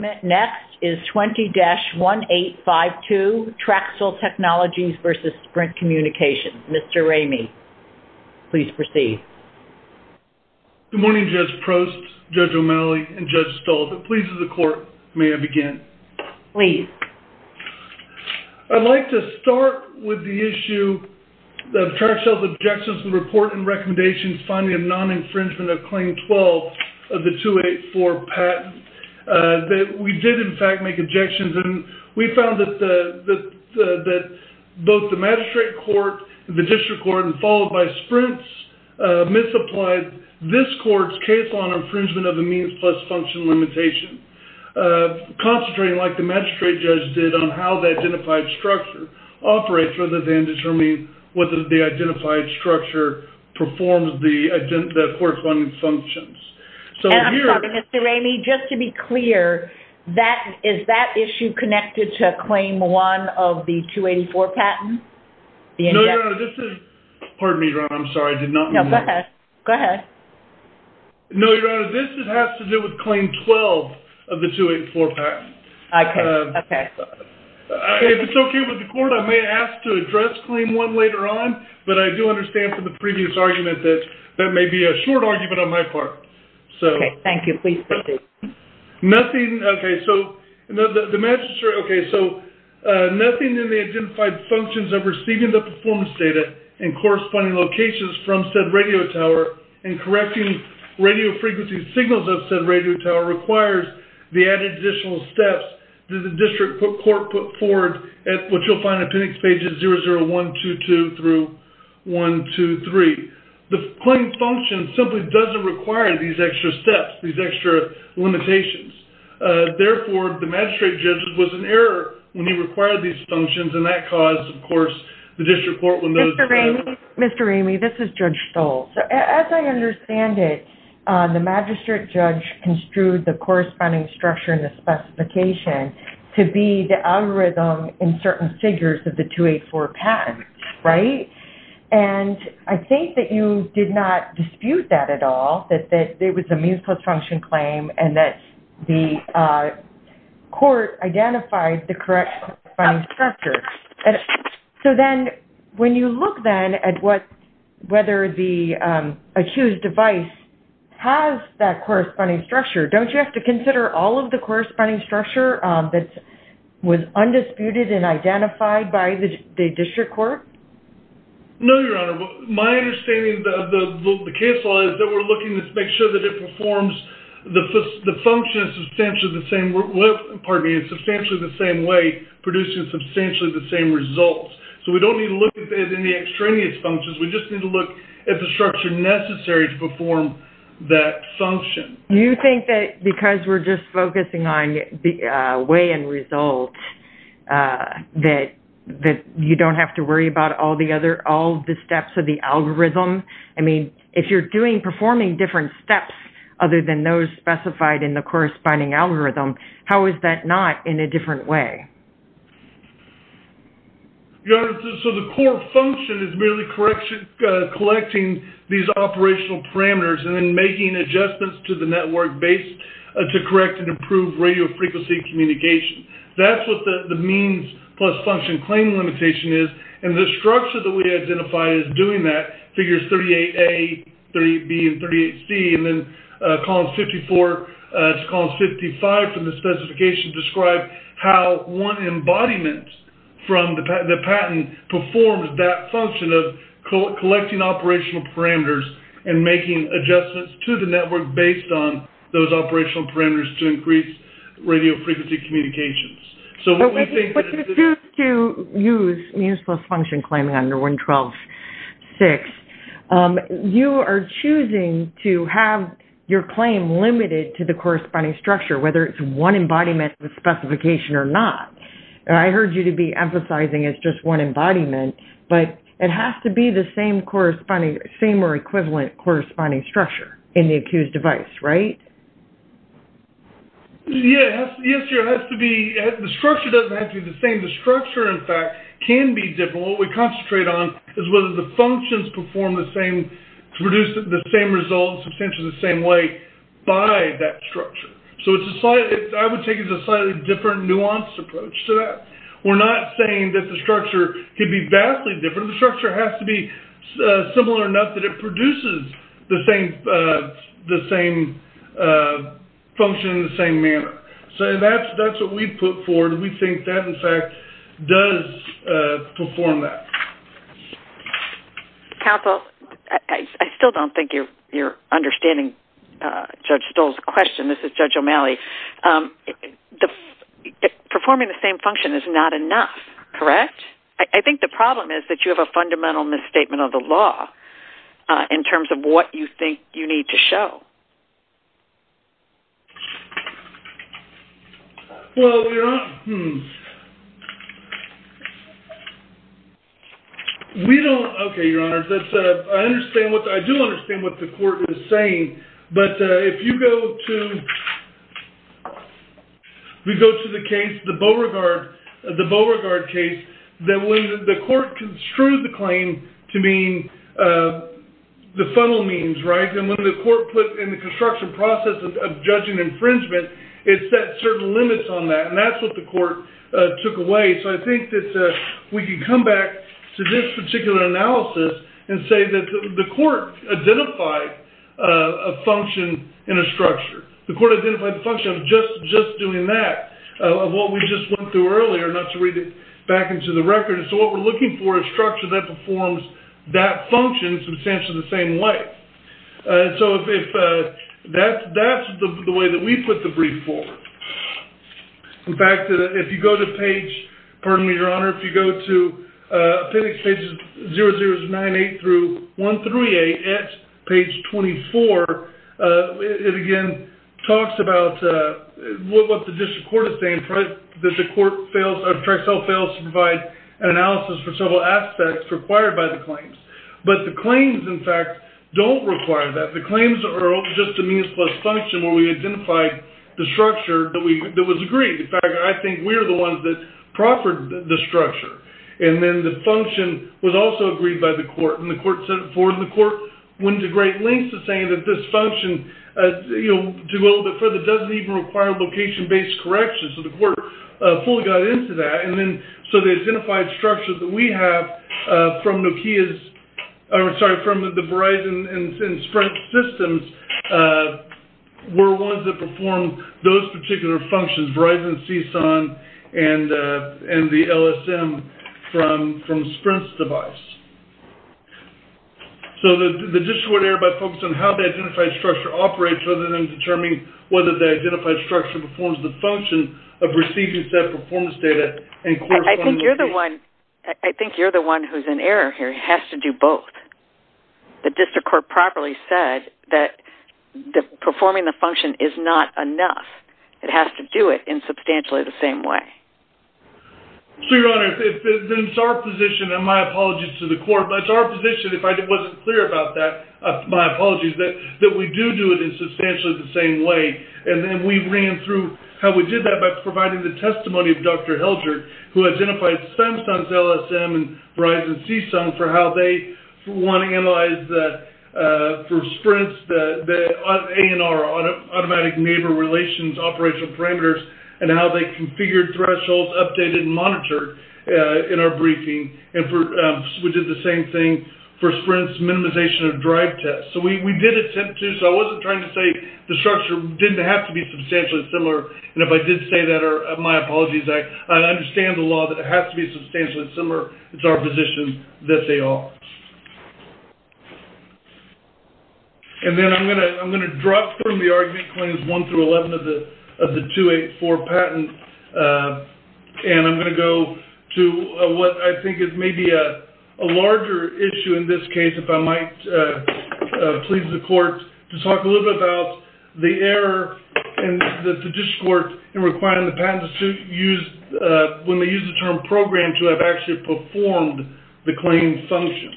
Next is 20-1852, Traxcell Technologies v. Sprint Communications. Mr. Ramey, please proceed. Good morning Judge Prost, Judge O'Malley, and Judge Stahl. If it pleases the Court, may I begin? Please. I'd like to start with the issue of Traxcell's objections to the report and recommendations finding of non-infringement of Claim 12 of the 284 patent. We did, in fact, make objections and we found that both the magistrate court, the district court, and followed by Sprint's misapplied this court's case on infringement of a means plus function limitation. Concentrating, like the magistrate judge did, on how the identified structure operates rather than determining whether the identified structure performs the corresponding functions. And I'm sorry, Mr. Ramey, just to be clear, is that issue connected to Claim 1 of the 284 patent? No, Your Honor, this has to do with Claim 12 of the 284 patent. Okay. If it's okay with the Court, I may ask to address Claim 1 later on, but I do understand from the previous argument that that may be a short argument on my part. Okay, thank you. Please proceed. Nothing, okay, so the magistrate, okay, so nothing in the identified functions of receiving the performance data and corresponding locations from said radio tower and correcting radio frequency signals of said radio tower requires the added additional steps that the district court put forward at what you'll find in appendix pages 00122 through 123. The claim function simply doesn't require these extra steps, these extra limitations. Therefore, the magistrate judge was in error when he required these functions, and that caused, of course, the district court when those… Mr. Ramey, this is Judge Stoll. As I understand it, the magistrate judge construed the corresponding structure and the specification to be the algorithm in certain figures of the 284 patent, right? And I think that you did not dispute that at all, that there was a means-plus function claim and that the court identified the correct corresponding structure. So then, when you look then at whether the accused device has that corresponding structure, don't you have to consider all of the corresponding structure that was undisputed and identified by the district court? No, Your Honor. My understanding of the case law is that we're looking to make sure that it performs the function in substantially the same way, producing substantially the same results. So we don't need to look at any extraneous functions. We just need to look at the structure necessary to perform that function. Do you think that because we're just focusing on way and result, that you don't have to worry about all the steps of the algorithm? I mean, if you're performing different steps other than those specified in the corresponding algorithm, how is that not in a different way? Your Honor, so the core function is merely collecting these operational parameters and then making adjustments to the network base to correct and improve radio frequency communication. That's what the means-plus function claim limitation is, and the structure that we identified as doing that, figures 38A, 38B, and 38C, and then column 54 to column 55 from the specification describe how one embodiment from the patent performs that function of collecting operational parameters and making adjustments to the network based on those operational parameters to increase radio frequency communications. But to use means-plus function claiming under 112.6, you are choosing to have your claim limited to the corresponding structure, whether it's one embodiment with specification or not. I heard you to be emphasizing it's just one embodiment, but it has to be the same or equivalent corresponding structure in the accused device, right? Yes, Your Honor, it has to be, the structure doesn't have to be the same. The structure, in fact, can be different. What we concentrate on is whether the functions perform the same, produce the same results substantially the same way by that structure. So it's a slightly, I would take it as a slightly different nuanced approach to that. We're not saying that the structure can be vastly different. The structure has to be similar enough that it produces the same function in the same manner. So that's what we put forward, and we think that, in fact, does perform that. Counsel, I still don't think you're understanding Judge Stoll's question. This is Judge O'Malley. Performing the same function is not enough, correct? I think the problem is that you have a fundamental misstatement of the law in terms of what you think you need to show. Well, Your Honor, we don't, okay, Your Honor, I do understand what the court is saying, but if you go to the case, the Beauregard case, that when the court construed the claim to mean the funnel means, right, and when the court put in the construction process of judging infringement, it set certain limits on that, and that's what the court took away. So I think that we can come back to this particular analysis and say that the court identified a function in a structure. The court identified the function of just doing that, of what we just went through earlier, not to read it back into the record. So what we're looking for is a structure that performs that function in substantially the same way. So that's the way that we put the brief forward. In fact, if you go to page, pardon me, Your Honor, if you go to appendix pages 00-98-138 at page 24, it again talks about what the district court is saying, that the court fails, or the tri-cell fails to provide an analysis for several aspects required by the claims. But the claims, in fact, don't require that. The claims are just a means plus function where we identified the structure that was agreed. In fact, I think we're the ones that proffered the structure. And then the function was also agreed by the court, and the court set it forward, and the court went to great lengths to say that this function, to go a little bit further, doesn't even require location-based correction. So the court fully got into that. So the identified structures that we have from the Verizon and Sprint systems were ones that performed those particular functions, Verizon, CSUN, and the LSM from Sprint's device. So the district court erred by focusing on how the identified structure operates rather than determining whether the identified structure performs the function of receiving said performance data. I think you're the one who's in error here. It has to do both. The district court properly said that performing the function is not enough. It has to do it in substantially the same way. So, Your Honor, it's our position, and my apologies to the court, but it's our position, if I wasn't clear about that, my apologies, that we do do it in substantially the same way. And then we ran through how we did that by providing the testimony of Dr. Hildreth, who identified Samsung's LSM and Verizon's CSUN for how they wanted to analyze for Sprint's ANR, automatic neighbor relations operational parameters, and how they configured thresholds, updated, and monitored in our briefing. And we did the same thing for Sprint's minimization of drive test. So we did attempt to, so I wasn't trying to say the structure didn't have to be substantially similar. And if I did say that, my apologies. I understand the law that it has to be substantially similar. It's our position that they are. And then I'm going to drop from the argument claims 1 through 11 of the 284 patent, and I'm going to go to what I think is maybe a larger issue in this case, if I might please the court to talk a little bit about the error that the district court in requiring the patent when they use the term program to have actually performed the claim functions.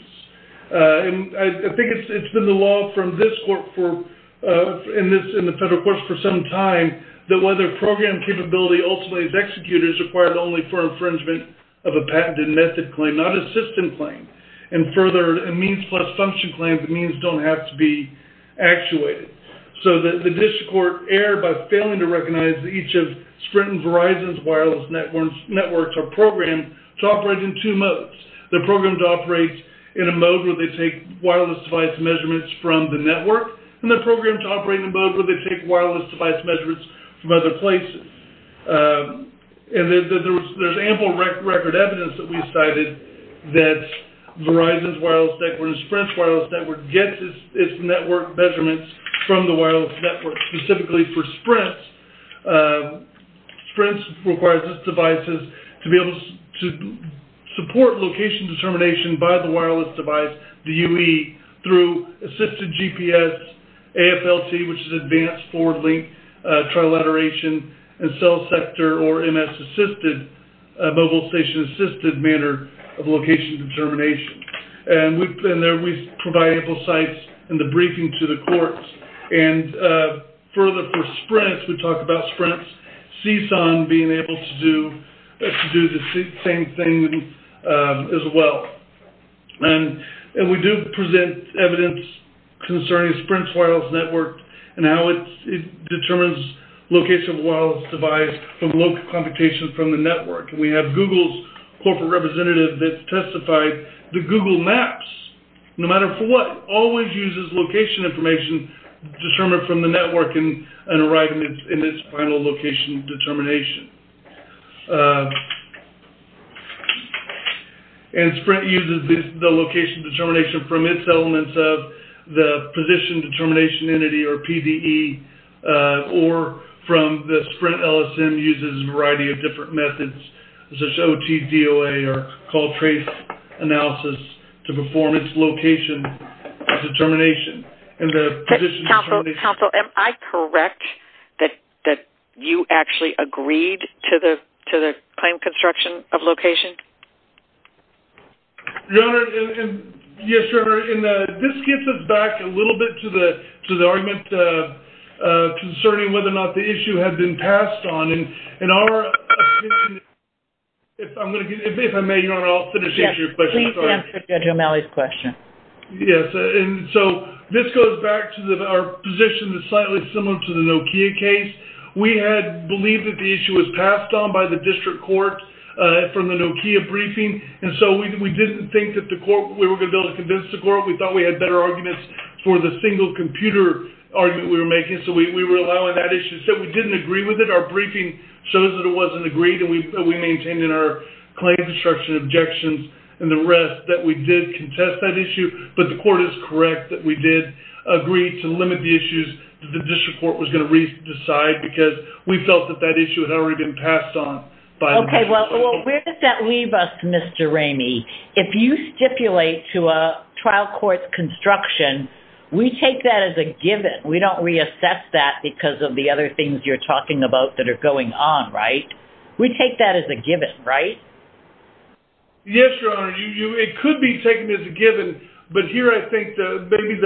And I think it's been the law from this court in the federal courts for some time that whether program capability ultimately is executed is required only for infringement of a patent and method claim, not a system claim. And further, a means plus function claim, the means don't have to be actuated. So the district court erred by failing to recognize that each of Sprint and Verizon's wireless networks are programmed to operate in two modes. The programs operate in a mode where they take wireless device measurements from the network, and the programs operate in a mode where they take wireless device measurements from other places. And there's ample record evidence that we cited that Verizon's wireless network and Sprint's wireless network gets its network measurements from the wireless network, specifically for Sprint. Sprint requires its devices to be able to support location determination by the wireless device, the UE, through assisted GPS, AFLT, which is advanced forward link trilateration, and cell sector or MS-assisted, mobile station assisted manner of location determination. And there we provide ample sites in the briefing to the courts. And further for Sprint, we talk about Sprint's CSUN being able to do the same thing as well. And we do present evidence concerning Sprint's wireless network and how it determines location of a wireless device from local computation from the network. And we have Google's corporate representative that testified that Google Maps, no matter for what, always uses location information determined from the network in its final location determination. And Sprint uses the location determination from its elements of the position determination entity, or PDE, or from the Sprint LSM uses a variety of different methods, such as OTDOA or call trace analysis to perform its location determination. Counsel, am I correct that you actually agreed to the claim construction of location? Your Honor, and yes, Your Honor, and this gets us back a little bit to the argument concerning whether or not the issue had been passed on. And our – if I may, Your Honor, I'll finish your question. Yes, please answer Judge O'Malley's question. Yes, and so this goes back to our position that's slightly similar to the Nokia case. We had believed that the issue was passed on by the district court from the Nokia briefing. And so we didn't think that the court – we were going to be able to convince the court. We thought we had better arguments for the single computer argument we were making. So we were allowing that issue. So we didn't agree with it. Our briefing shows that it wasn't agreed, and we maintained in our claim construction objections and the rest that we did contest that issue. But the court is correct that we did agree to limit the issues that the district court was going to decide because we felt that that issue had already been passed on by the district court. Okay, well, where does that leave us, Mr. Ramey? If you stipulate to a trial court's construction, we take that as a given. We don't reassess that because of the other things you're talking about that are going on, right? We take that as a given, right? Yes, Your Honor. It could be taken as a given. But here I think maybe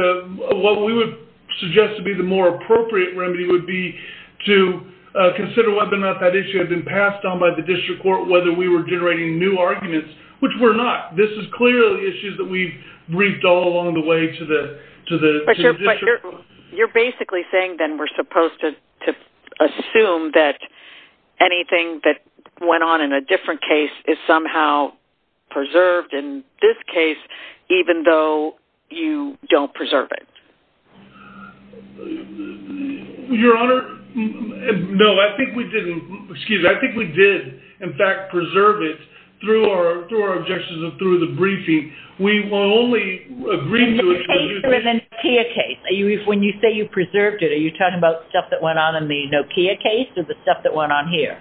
what we would suggest to be the more appropriate remedy would be to consider whether or not that issue had been passed on by the district court, whether we were generating new arguments, which we're not. This is clearly issues that we've briefed all along the way to the district court. You're basically saying then we're supposed to assume that anything that went on in a different case is somehow preserved in this case, even though you don't preserve it. Your Honor, no, I think we did, in fact, preserve it through our objections and through the briefing. We only agreed to it. When you say you preserved it, are you talking about stuff that went on in the Nokia case or the stuff that went on here?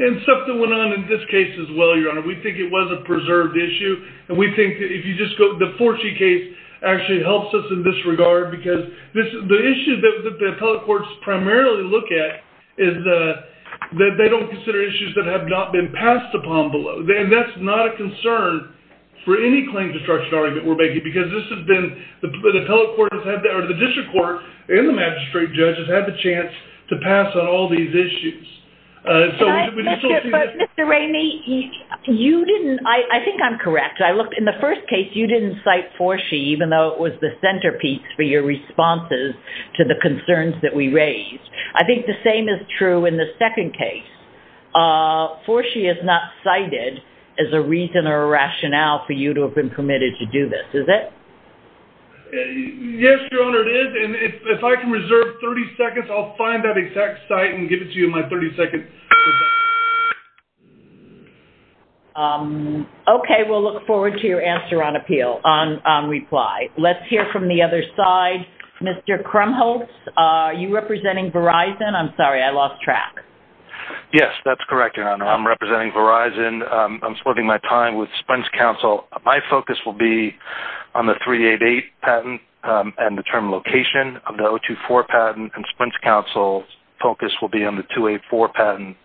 And stuff that went on in this case as well, Your Honor. We think it was a preserved issue. And we think if you just go, the Forty case actually helps us in this regard because the issue that the appellate courts primarily look at is that they don't consider issues that have not been passed upon below. And that's not a concern for any claim destruction argument we're making because this has been, the district court and the magistrate judge has had the chance to pass on all these issues. Mr. Rainey, you didn't, I think I'm correct. In the first case, you didn't cite Forshee, even though it was the centerpiece for your responses to the concerns that we raised. I think the same is true in the second case. Forshee is not cited as a reason or a rationale for you to have been permitted to do this, is it? Yes, Your Honor, it is. And if I can reserve 30 seconds, I'll find that exact site and give it to you in my 30 seconds. Okay, we'll look forward to your answer on appeal, on reply. Let's hear from the other side. Mr. Krumholtz, are you representing Verizon? I'm sorry, I lost track. Yes, that's correct, Your Honor. I'm representing Verizon. I'm splitting my time with Spence Council. My focus will be on the 388 patent and the term location of the 024 patent. And Spence Council's focus will be on the 284 patent,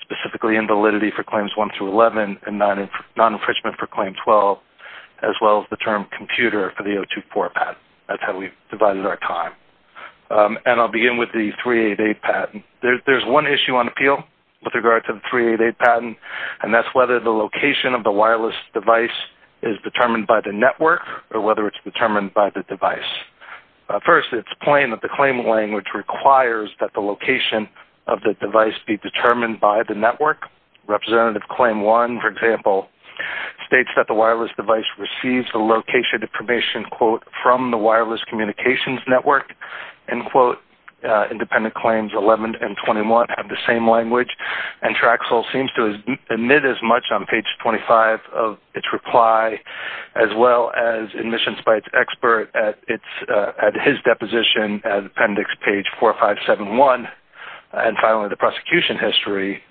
specifically in validity for claims 1 through 11 and non-enfrichment for claim 12, as well as the term computer for the 024 patent. That's how we've divided our time. And I'll begin with the 388 patent. There's one issue on appeal with regard to the 388 patent, and that's whether the location of the wireless device is determined by the network or whether it's determined by the device. First, it's plain that the claim language requires that the location of the device be determined by the network. Representative Claim 1, for example, states that the wireless device receives the location information, quote, from the wireless communications network, end quote. Independent Claims 11 and 21 have the same language. And Traxel seems to admit as much on page 25 of its reply as well as admissions by its expert at his deposition, appendix page 4571. And finally, the prosecution history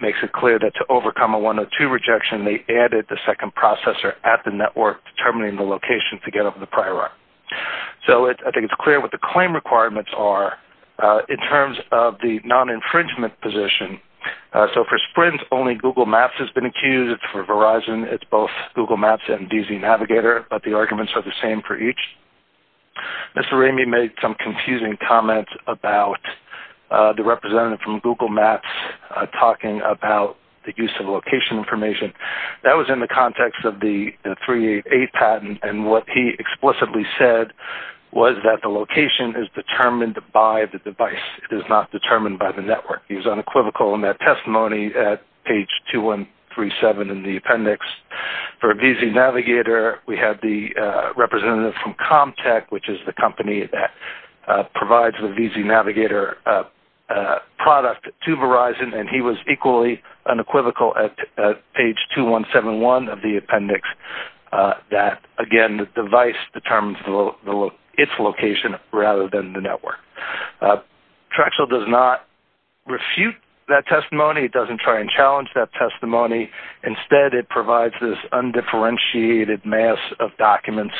makes it clear that to overcome a 102 rejection, they added the second processor at the network, determining the location to get over the prior art. So I think it's clear what the claim requirements are in terms of the non-infringement position. So for Sprint, only Google Maps has been accused. For Verizon, it's both Google Maps and DZ Navigator, but the arguments are the same for each. Mr. Ramey made some confusing comments about the representative from Google Maps talking about the use of location information. That was in the context of the 388 patent, and what he explicitly said was that the location is determined by the device. It is not determined by the network. He was unequivocal in that testimony at page 2137 in the appendix. For DZ Navigator, we have the representative from ComTech, which is the company that provides the DZ Navigator product to Verizon, and he was equally unequivocal at page 2171 of the appendix that, again, the device determines its location rather than the network. Traxel does not refute that testimony. It doesn't try and challenge that testimony. Instead, it provides this undifferentiated mass of documents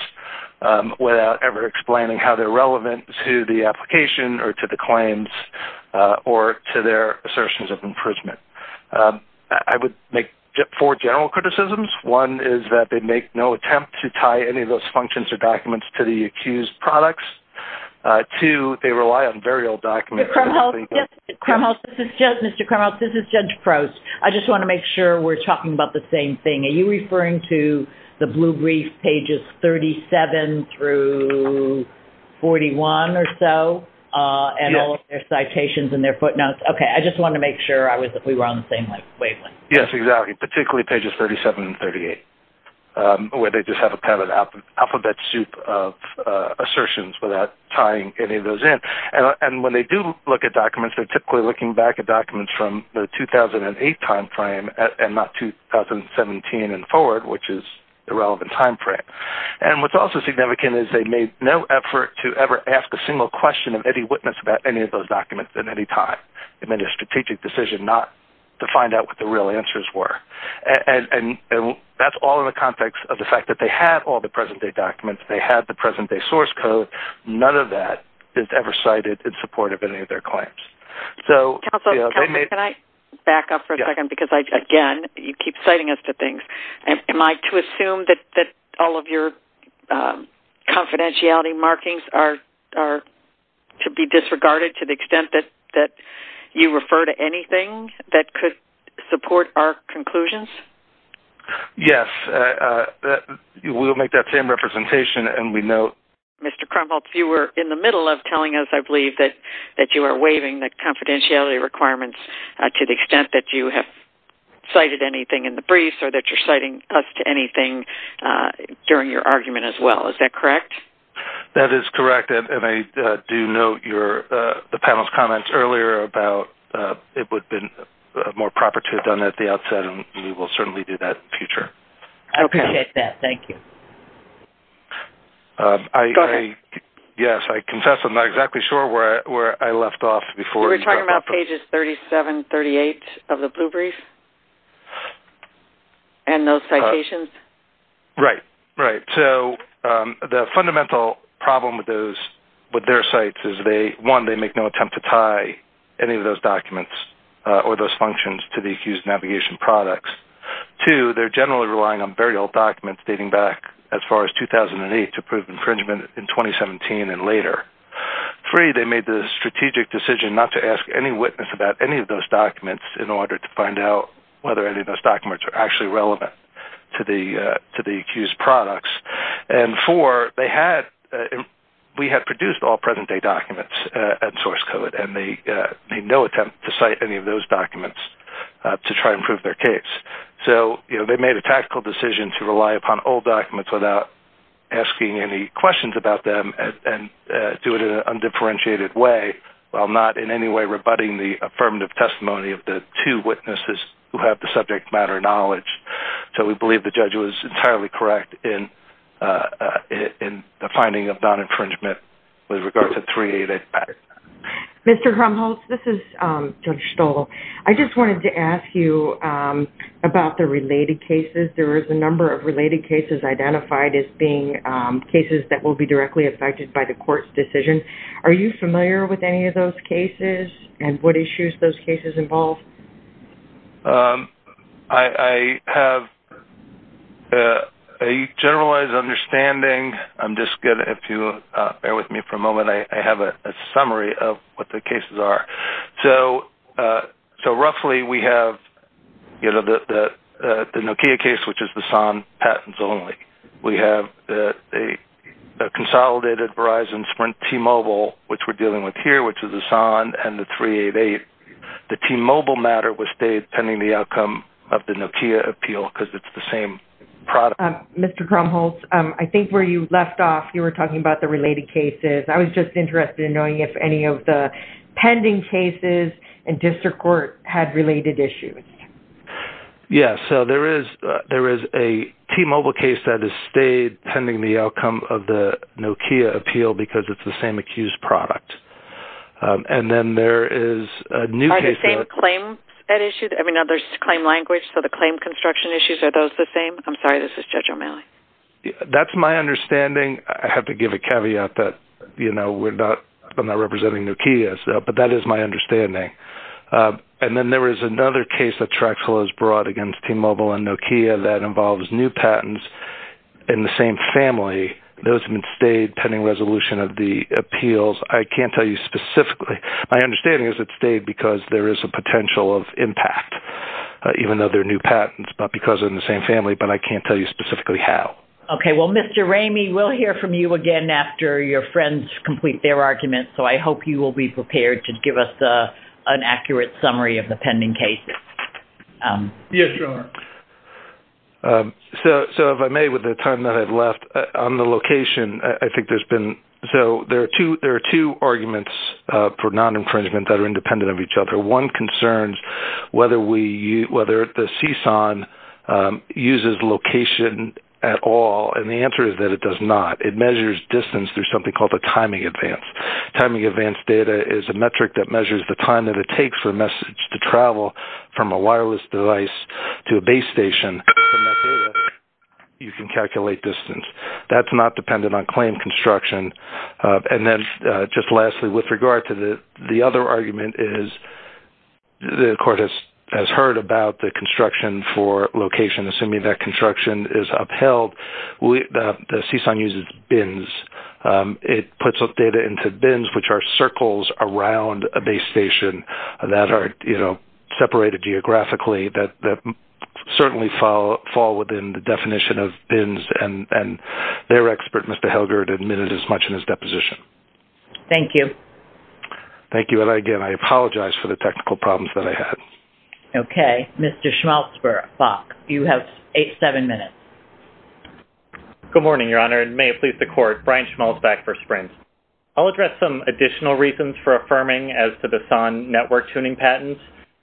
without ever explaining how they're relevant to the application or to the claims or to their assertions of infringement. I would make four general criticisms. One is that they make no attempt to tie any of those functions or documents to the accused products. Two, they rely on very old documents. Mr. Krumholz, this is Judge Prost. I just want to make sure we're talking about the same thing. Are you referring to the blue brief pages 37 through 41 or so and all of their citations and their footnotes? Okay, I just wanted to make sure we were on the same wavelength. Yes, exactly, particularly pages 37 and 38, where they just have a kind of alphabet soup of assertions without tying any of those in. And when they do look at documents, they're typically looking back at documents from the 2008 timeframe and not 2017 and forward, which is the relevant timeframe. And what's also significant is they made no effort to ever ask a single question of any witness about any of those documents at any time. They made a strategic decision not to find out what the real answers were. And that's all in the context of the fact that they had all the present-day documents. They had the present-day source code. But none of that is ever cited in support of any of their claims. Counsel, can I back up for a second because, again, you keep citing us to things. Am I to assume that all of your confidentiality markings are to be disregarded to the extent that you refer to anything that could support our conclusions? Yes. We will make that same representation, and we note. Mr. Krumholz, you were in the middle of telling us, I believe, that you are waiving the confidentiality requirements to the extent that you have cited anything in the briefs or that you're citing us to anything during your argument as well. Is that correct? That is correct, and I do note the panel's comments earlier about it would have been more proper to have done that at the outset, and we will certainly do that in the future. Okay. I appreciate that. Thank you. Go ahead. Yes, I confess I'm not exactly sure where I left off before. Were you talking about pages 37, 38 of the blue brief and those citations? Right, right. So the fundamental problem with their sites is, one, they make no attempt to tie any of those documents or those functions to the accused navigation products. Two, they're generally relying on very old documents dating back as far as 2008 to prove infringement in 2017 and later. Three, they made the strategic decision not to ask any witness about any of those documents in order to find out whether any of those documents are actually relevant to the accused products. And four, we had produced all present-day documents and source code, and they made no attempt to cite any of those documents to try and prove their case. So they made a tactical decision to rely upon old documents without asking any questions about them and do it in an undifferentiated way, while not in any way rebutting the affirmative testimony of the two witnesses who have the subject matter knowledge. So we believe the judge was entirely correct in the finding of non-infringement with regard to 388 Patterson. Mr. Hrumholtz, this is Judge Stoll. I just wanted to ask you about the related cases. There is a number of related cases identified as being cases that will be directly affected by the court's decision. Are you familiar with any of those cases, and what issues those cases involve? I have a generalized understanding. I'm just going to, if you bear with me for a moment, I have a summary of what the cases are. So roughly, we have the Nokia case, which is the SON patents only. We have a consolidated Verizon Sprint T-Mobile, which we're dealing with here, which is the SON and the 388. The T-Mobile matter was stayed pending the outcome of the Nokia appeal because it's the same product. Mr. Hrumholtz, I think where you left off, you were talking about the related cases. I was just interested in knowing if any of the pending cases in district court had related issues. Yes. So there is a T-Mobile case that has stayed pending the outcome of the Nokia appeal because it's the same accused product. And then there is a new case that- Are the same claims at issue? I mean, now there's claim language, so the claim construction issues, are those the same? I'm sorry, this is Judge O'Malley. That's my understanding. I have to give a caveat that I'm not representing Nokia, but that is my understanding. And then there is another case that Traxler has brought against T-Mobile and Nokia that involves new patents in the same family. Those have been stayed pending resolution of the appeals. I can't tell you specifically. My understanding is it stayed because there is a potential of impact, even though they're new patents, but because they're in the same family. But I can't tell you specifically how. Okay. Well, Mr. Ramey, we'll hear from you again after your friends complete their arguments. So I hope you will be prepared to give us an accurate summary of the pending cases. Yes, Your Honor. So if I may, with the time that I've left, on the location, I think there's been- So there are two arguments for non-infringement that are independent of each other. One concerns whether the CSUN uses location at all, and the answer is that it does not. It measures distance through something called a timing advance. Timing advance data is a metric that measures the time that it takes for a message to travel from a wireless device to a base station. From that data, you can calculate distance. That's not dependent on claim construction. And then just lastly, with regard to the other argument is the court has heard about the construction for location. Assuming that construction is upheld, the CSUN uses bins. It puts up data into bins, which are circles around a base station that are separated geographically, that certainly fall within the definition of bins, and their expert, Mr. Helgert, admitted as much in his deposition. Thank you. Thank you, and again, I apologize for the technical problems that I had. Okay. Mr. Schmalzbach, you have seven minutes. Good morning, Your Honor, and may it please the Court, Brian Schmalzbach for Sprint. I'll address some additional reasons for affirming as to the CSUN network tuning patents.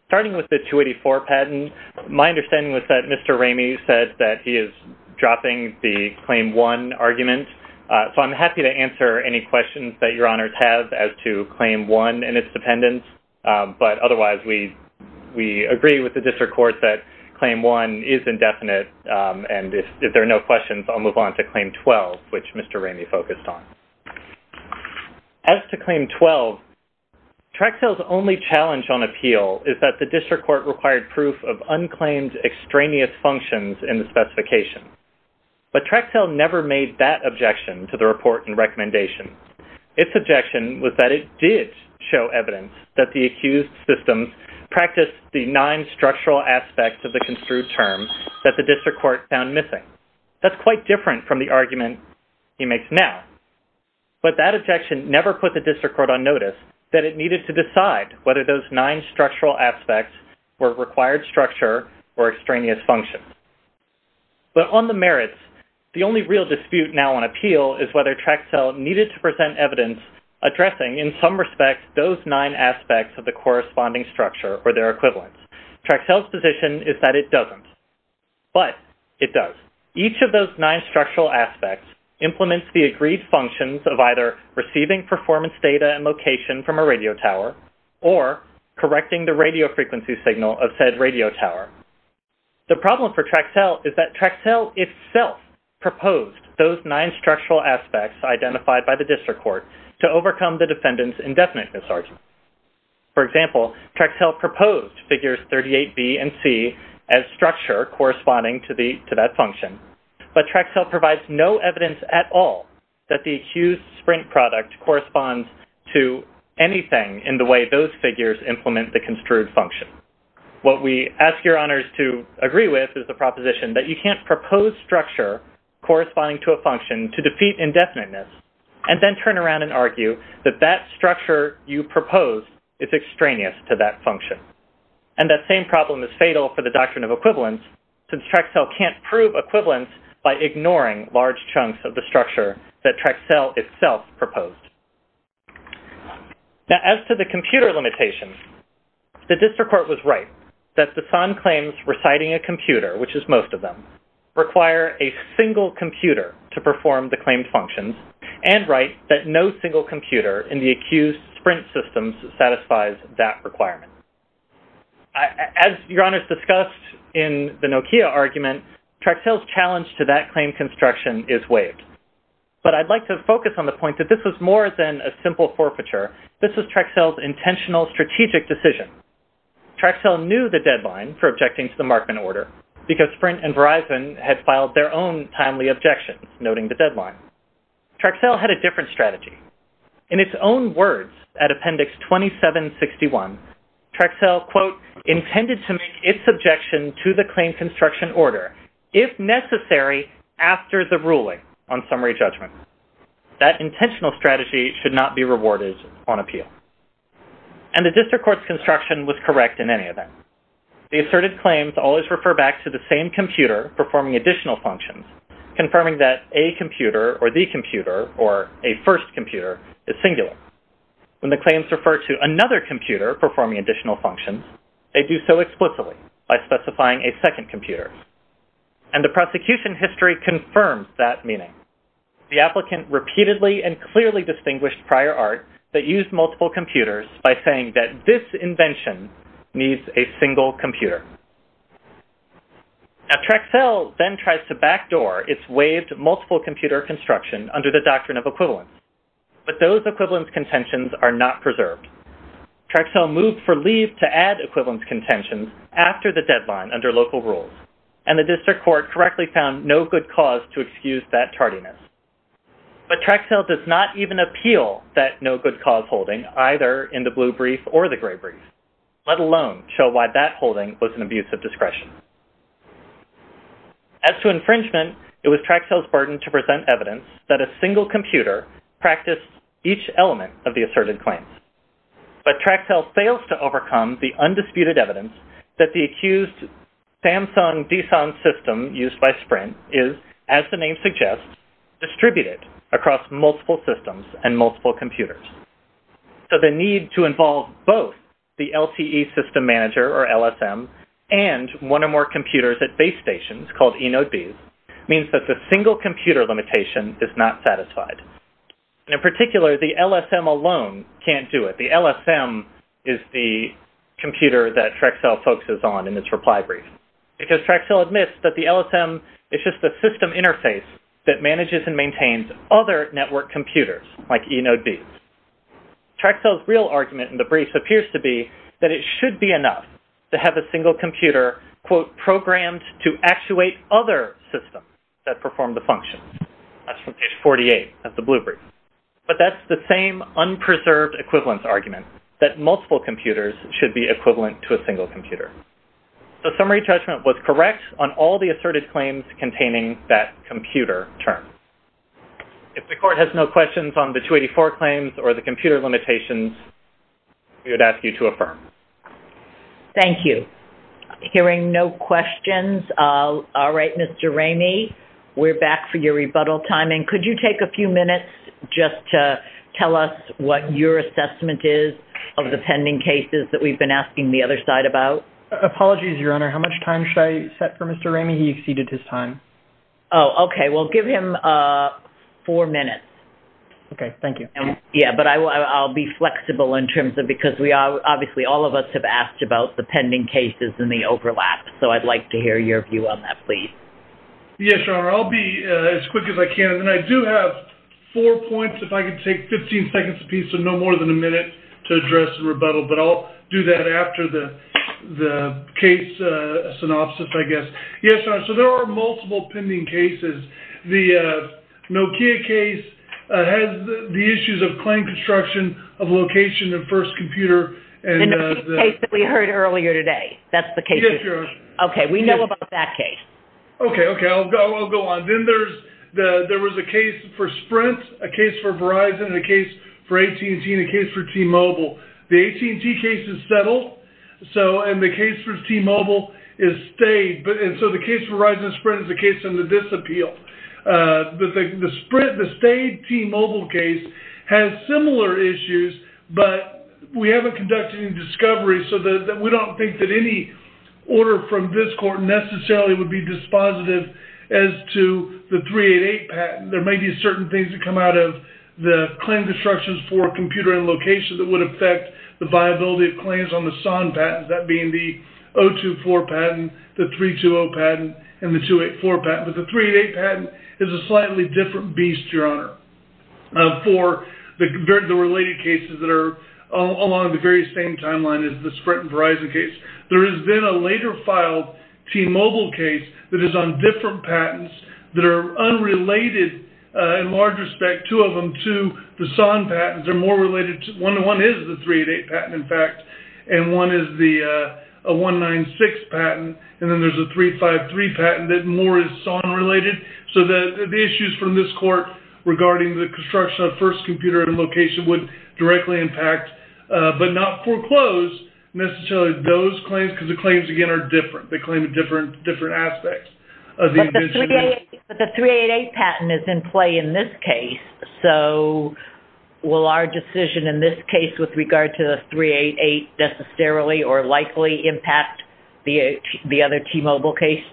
Starting with the 284 patent, my understanding was that Mr. Ramey said that he is dropping the Claim 1 argument, so I'm happy to answer any questions that Your Honors have as to Claim 1 and its dependence. But otherwise, we agree with the District Court that Claim 1 is indefinite, and if there are no questions, I'll move on to Claim 12, which Mr. Ramey focused on. As to Claim 12, Traxell's only challenge on appeal is that the District Court required proof of unclaimed extraneous functions in the specification. But Traxell never made that objection to the report and recommendation. Its objection was that it did show evidence that the accused system practiced the nine structural aspects of the construed term that the District Court found missing. That's quite different from the argument he makes now. But that objection never put the District Court on notice that it needed to decide whether those nine structural aspects were required structure or extraneous functions. But on the merits, the only real dispute now on appeal is whether Traxell needed to present evidence addressing, in some respects, those nine aspects of the corresponding structure or their equivalents. Traxell's position is that it doesn't. But it does. Each of those nine structural aspects implements the agreed functions of either receiving performance data and location from a radio tower or correcting the radio frequency signal of said radio tower. The problem for Traxell is that Traxell itself proposed those nine structural aspects identified by the District Court to overcome the defendant's indefinite misargument. For example, Traxell proposed figures 38B and C as structure corresponding to that function. But Traxell provides no evidence at all that the accused sprint product corresponds to anything in the way those figures implement the construed function. What we ask your honors to agree with is the proposition that you can't propose structure corresponding to a function to defeat indefiniteness and then turn around and argue that that structure you proposed is extraneous to that function. And that same problem is fatal for the doctrine of equivalence since Traxell can't prove equivalence by ignoring large chunks of the structure that Traxell itself proposed. Now, as to the computer limitations, the District Court was right that the SON claims reciting a computer, which is most of them, require a single computer to perform the claimed functions and write that no single computer in the accused sprint systems satisfies that requirement. As your honors discussed in the Nokia argument, Traxell's challenge to that claim construction is waived. But I'd like to focus on the point that this was more than a simple forfeiture. This was Traxell's intentional strategic decision. Traxell knew the deadline for objecting to the Markman order because Sprint and Verizon had filed their own timely objections noting the deadline. Traxell had a different strategy. In its own words at Appendix 2761, Traxell, quote, intended to make its objection to the claim construction order if necessary after the ruling on summary judgment. That intentional strategy should not be rewarded on appeal. And the District Court's construction was correct in any of that. The asserted claims always refer back to the same computer performing additional functions, confirming that a computer or the computer or a first computer is singular. When the claims refer to another computer performing additional functions, they do so explicitly by specifying a second computer. And the prosecution history confirms that meaning. The applicant repeatedly and clearly distinguished prior art that used multiple computers by saying that this invention needs a single computer. Now Traxell then tries to backdoor its waived multiple computer construction under the doctrine of equivalence. But those equivalence contentions are not preserved. Traxell moved for leave to add equivalence contentions after the deadline under local rules. And the District Court correctly found no good cause to excuse that tardiness. But Traxell does not even appeal that no good cause holding either in the blue brief or the gray brief, let alone show why that holding was an abuse of discretion. As to infringement, it was Traxell's burden to present evidence that a single computer practiced each element of the asserted claims. But Traxell fails to overcome the undisputed evidence that the accused Samsung DSON system used by Sprint is, as the name suggests, distributed across multiple systems and multiple computers. So the need to involve both the LTE system manager or LSM and one or more computers at base stations called eNodeBs means that the single computer limitation is not satisfied. In particular, the LSM alone can't do it. The LSM is the computer that Traxell focuses on in this reply brief. Because Traxell admits that the LSM is just a system interface that manages and maintains other network computers like eNodeBs. Traxell's real argument in the brief appears to be that it should be enough to have a single computer, quote, But that's the same unpreserved equivalence argument, that multiple computers should be equivalent to a single computer. The summary judgment was correct on all the asserted claims containing that computer term. If the court has no questions on the 284 claims or the computer limitations, we would ask you to affirm. Thank you. Hearing no questions, all right, Mr. Ramey, we're back for your rebuttal time. And could you take a few minutes just to tell us what your assessment is of the pending cases that we've been asking the other side about? Apologies, Your Honor. How much time should I set for Mr. Ramey? He exceeded his time. Oh, OK. Well, give him four minutes. OK, thank you. Yeah, but I'll be flexible in terms of because obviously all of us have asked about the pending cases and the overlap. Yes, Your Honor, I'll be as quick as I can. And I do have four points. If I could take 15 seconds piece of no more than a minute to address the rebuttal. But I'll do that after the the case synopsis, I guess. Yes. So there are multiple pending cases. The Nokia case has the issues of claim construction of location and first computer. And the case that we heard earlier today, that's the case. Yes, Your Honor. OK, we know about that case. OK, OK, I'll go on. Then there was a case for Sprint, a case for Verizon, a case for AT&T, and a case for T-Mobile. The AT&T case is settled, and the case for T-Mobile is stayed. And so the case for Verizon and Sprint is a case under disappeal. The Sprint, the stayed T-Mobile case has similar issues, but we haven't conducted any discovery. So we don't think that any order from this court necessarily would be dispositive as to the 388 patent. There may be certain things that come out of the claim constructions for computer and location that would affect the viability of claims on the SON patents, that being the 024 patent, the 320 patent, and the 284 patent. But the 388 patent is a slightly different beast, Your Honor, for the related cases that are along the very same timeline as the Sprint and Verizon case. There has been a later filed T-Mobile case that is on different patents that are unrelated in large respect, two of them, to the SON patents. One is the 388 patent, in fact, and one is the 196 patent, and then there's a 353 patent that more is SON related. So the issues from this court regarding the construction of first computer and location would directly impact, but not foreclose necessarily those claims, because the claims, again, are different. They claim different aspects of the invention. But the 388 patent is in play in this case, so will our decision in this case with regard to the 388 necessarily or likely impact the other T-Mobile case?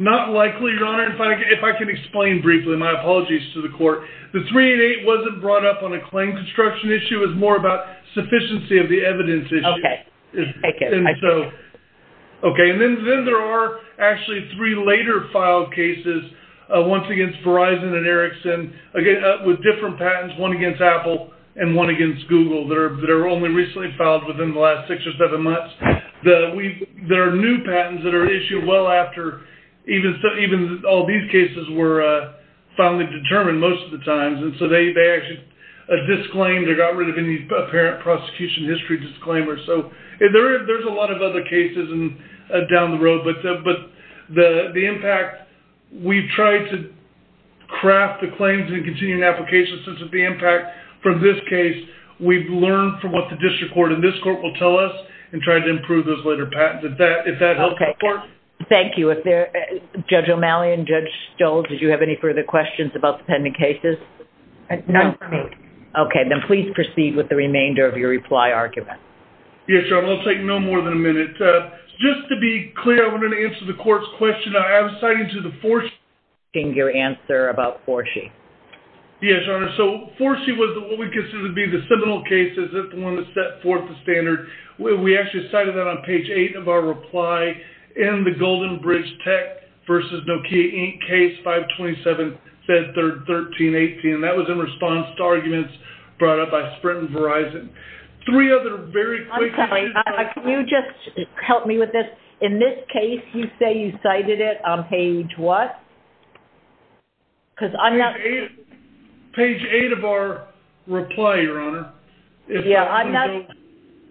Not likely, Your Honor. If I can explain briefly, my apologies to the court. The 388 wasn't brought up on a claim construction issue. It was more about sufficiency of the evidence issue. Okay. And then there are actually three later filed cases, once against Verizon and Ericsson, again, with different patents, one against Apple and one against Google, that are only recently filed within the last six or seven months, that are new patents that are issued well after even all these cases were finally determined most of the time. And so they actually disclaimed or got rid of any apparent prosecution history disclaimers. So there's a lot of other cases down the road, but the impact, we've tried to craft the claims and continue an application. Since the impact from this case, we've learned from what the district court and this court will tell us and try to improve those later patents. If that helps the court. Thank you. Judge O'Malley and Judge Stoll, did you have any further questions about the pending cases? None for me. Okay. Then please proceed with the remainder of your reply argument. Yes, Your Honor. I'll take no more than a minute. Just to be clear, I wanted to answer the court's question. I was citing to the 4C. Your answer about 4C. Yes, Your Honor. So 4C was what we considered to be the seminal case, the one that set forth the standard. We actually cited that on page 8 of our reply in the Golden Bridge Tech versus Nokia Inc. case 527-1318. That was in response to arguments brought up by Sprint and Verizon. Three other very quick... I'm sorry. Can you just help me with this? In this case, you say you cited it on page what? Page 8 of our reply, Your Honor.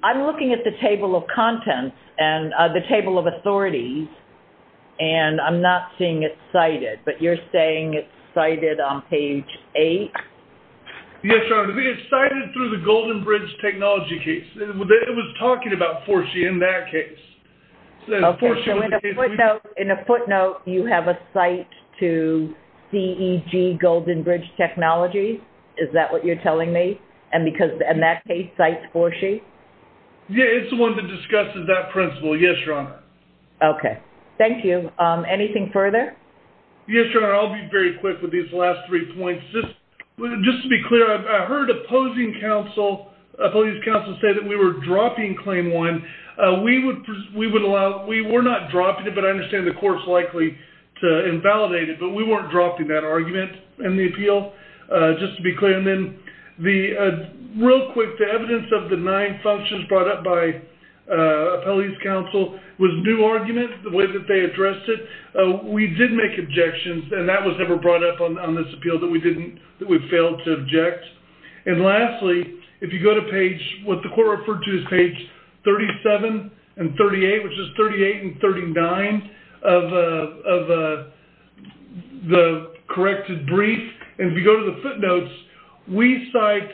I'm looking at the table of contents and the table of authorities, and I'm not seeing it cited. But you're saying it's cited on page 8? Yes, Your Honor. It's cited through the Golden Bridge Technology case. It was talking about 4C in that case. Okay. So in a footnote, you have a cite to CEG Golden Bridge Technology? Is that what you're telling me? And that case cites 4C? Yeah, it's the one that discusses that principle. Yes, Your Honor. Okay. Thank you. Anything further? Yes, Your Honor. I'll be very quick with these last three points. Just to be clear, I heard opposing council, opposing council say that we were dropping Claim 1. We were not dropping it, but I understand the court's likely to invalidate it, but we weren't dropping that argument in the appeal. Just to be clear. And then real quick, the evidence of the nine functions brought up by appellees' counsel was new argument, the way that they addressed it. We did make objections, and that was never brought up on this appeal that we failed to object. And lastly, if you go to page, what the court referred to as page 37 and 38, which is 38 and 39 of the corrected brief. And if you go to the footnotes, we cite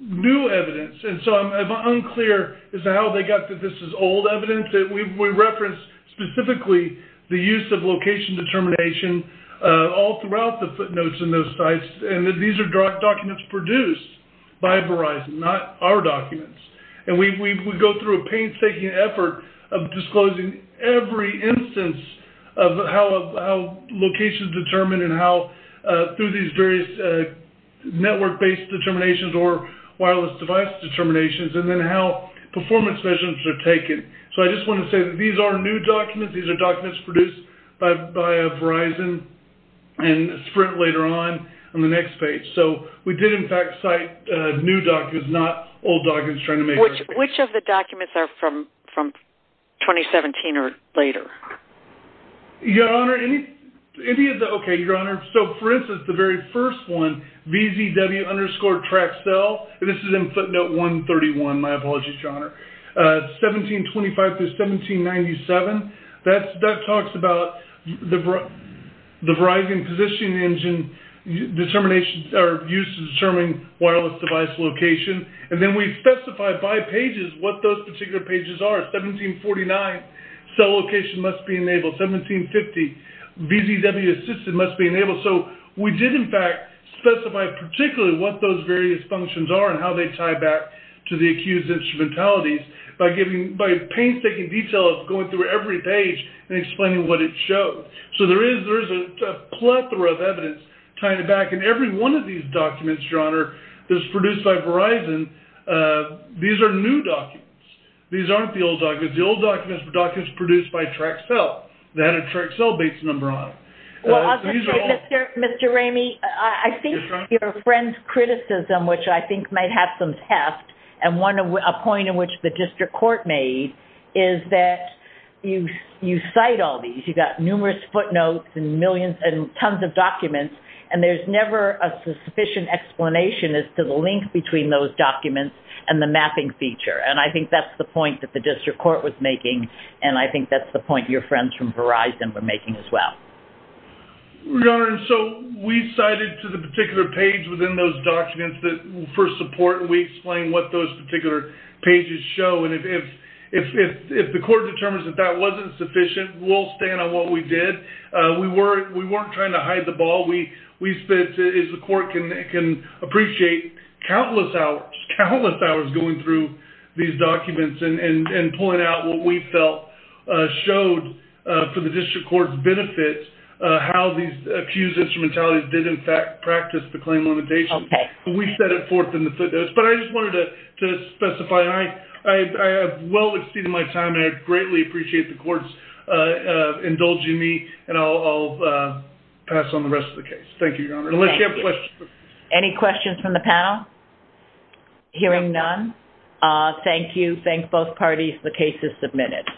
new evidence. And so I'm unclear as to how they got that this is old evidence. We referenced specifically the use of location determination all throughout the footnotes in those sites. And these are documents produced by Verizon, not our documents. And we go through a painstaking effort of disclosing every instance of how locations are determined and how through these various network-based determinations or wireless device determinations, and then how performance measurements are taken. So I just want to say that these are new documents. These are documents produced by Verizon and a sprint later on on the next page. So we did, in fact, cite new documents, not old documents trying to make our case. Which of the documents are from 2017 or later? Your Honor, any of the – okay, Your Honor. So, for instance, the very first one, VZW underscore Traxel, and this is in footnote 131. My apologies, Your Honor. 1725 through 1797, that talks about the Verizon position engine determination or use of determining wireless device location. And then we specify by pages what those particular pages are. 1749, cell location must be enabled. 1750, VZW assisted must be enabled. So we did, in fact, specify particularly what those various functions are and how they tie back to the accused's instrumentalities by painstaking detail of going through every page and explaining what it shows. So there is a plethora of evidence tying it back. And every one of these documents, Your Honor, that's produced by Verizon, these are new documents. These aren't the old documents. The old documents were documents produced by Traxel. They had a Traxel base number on them. Well, Mr. Ramey, I think your friend's criticism, which I think might have some heft, and a point in which the district court made, is that you cite all these. You've got numerous footnotes and millions and tons of documents, and there's never a sufficient explanation as to the link between those documents and the mapping feature. And I think that's the point that the district court was making, and I think that's the point your friends from Verizon were making as well. Your Honor, so we cited to the particular page within those documents for support, and we explained what those particular pages show. And if the court determines that that wasn't sufficient, we'll stand on what we did. We weren't trying to hide the ball. What we said is the court can appreciate countless hours, countless hours going through these documents and pulling out what we felt showed for the district court's benefit how these accused instrumentalities did, in fact, practice the claim limitations. We set it forth in the footnotes. But I just wanted to specify, I have well exceeded my time, and I greatly appreciate the courts indulging me, and I'll pass on the rest of the case. Thank you, Your Honor. Unless you have questions. Any questions from the panel? Hearing none, thank you. Thank both parties. The case is submitted.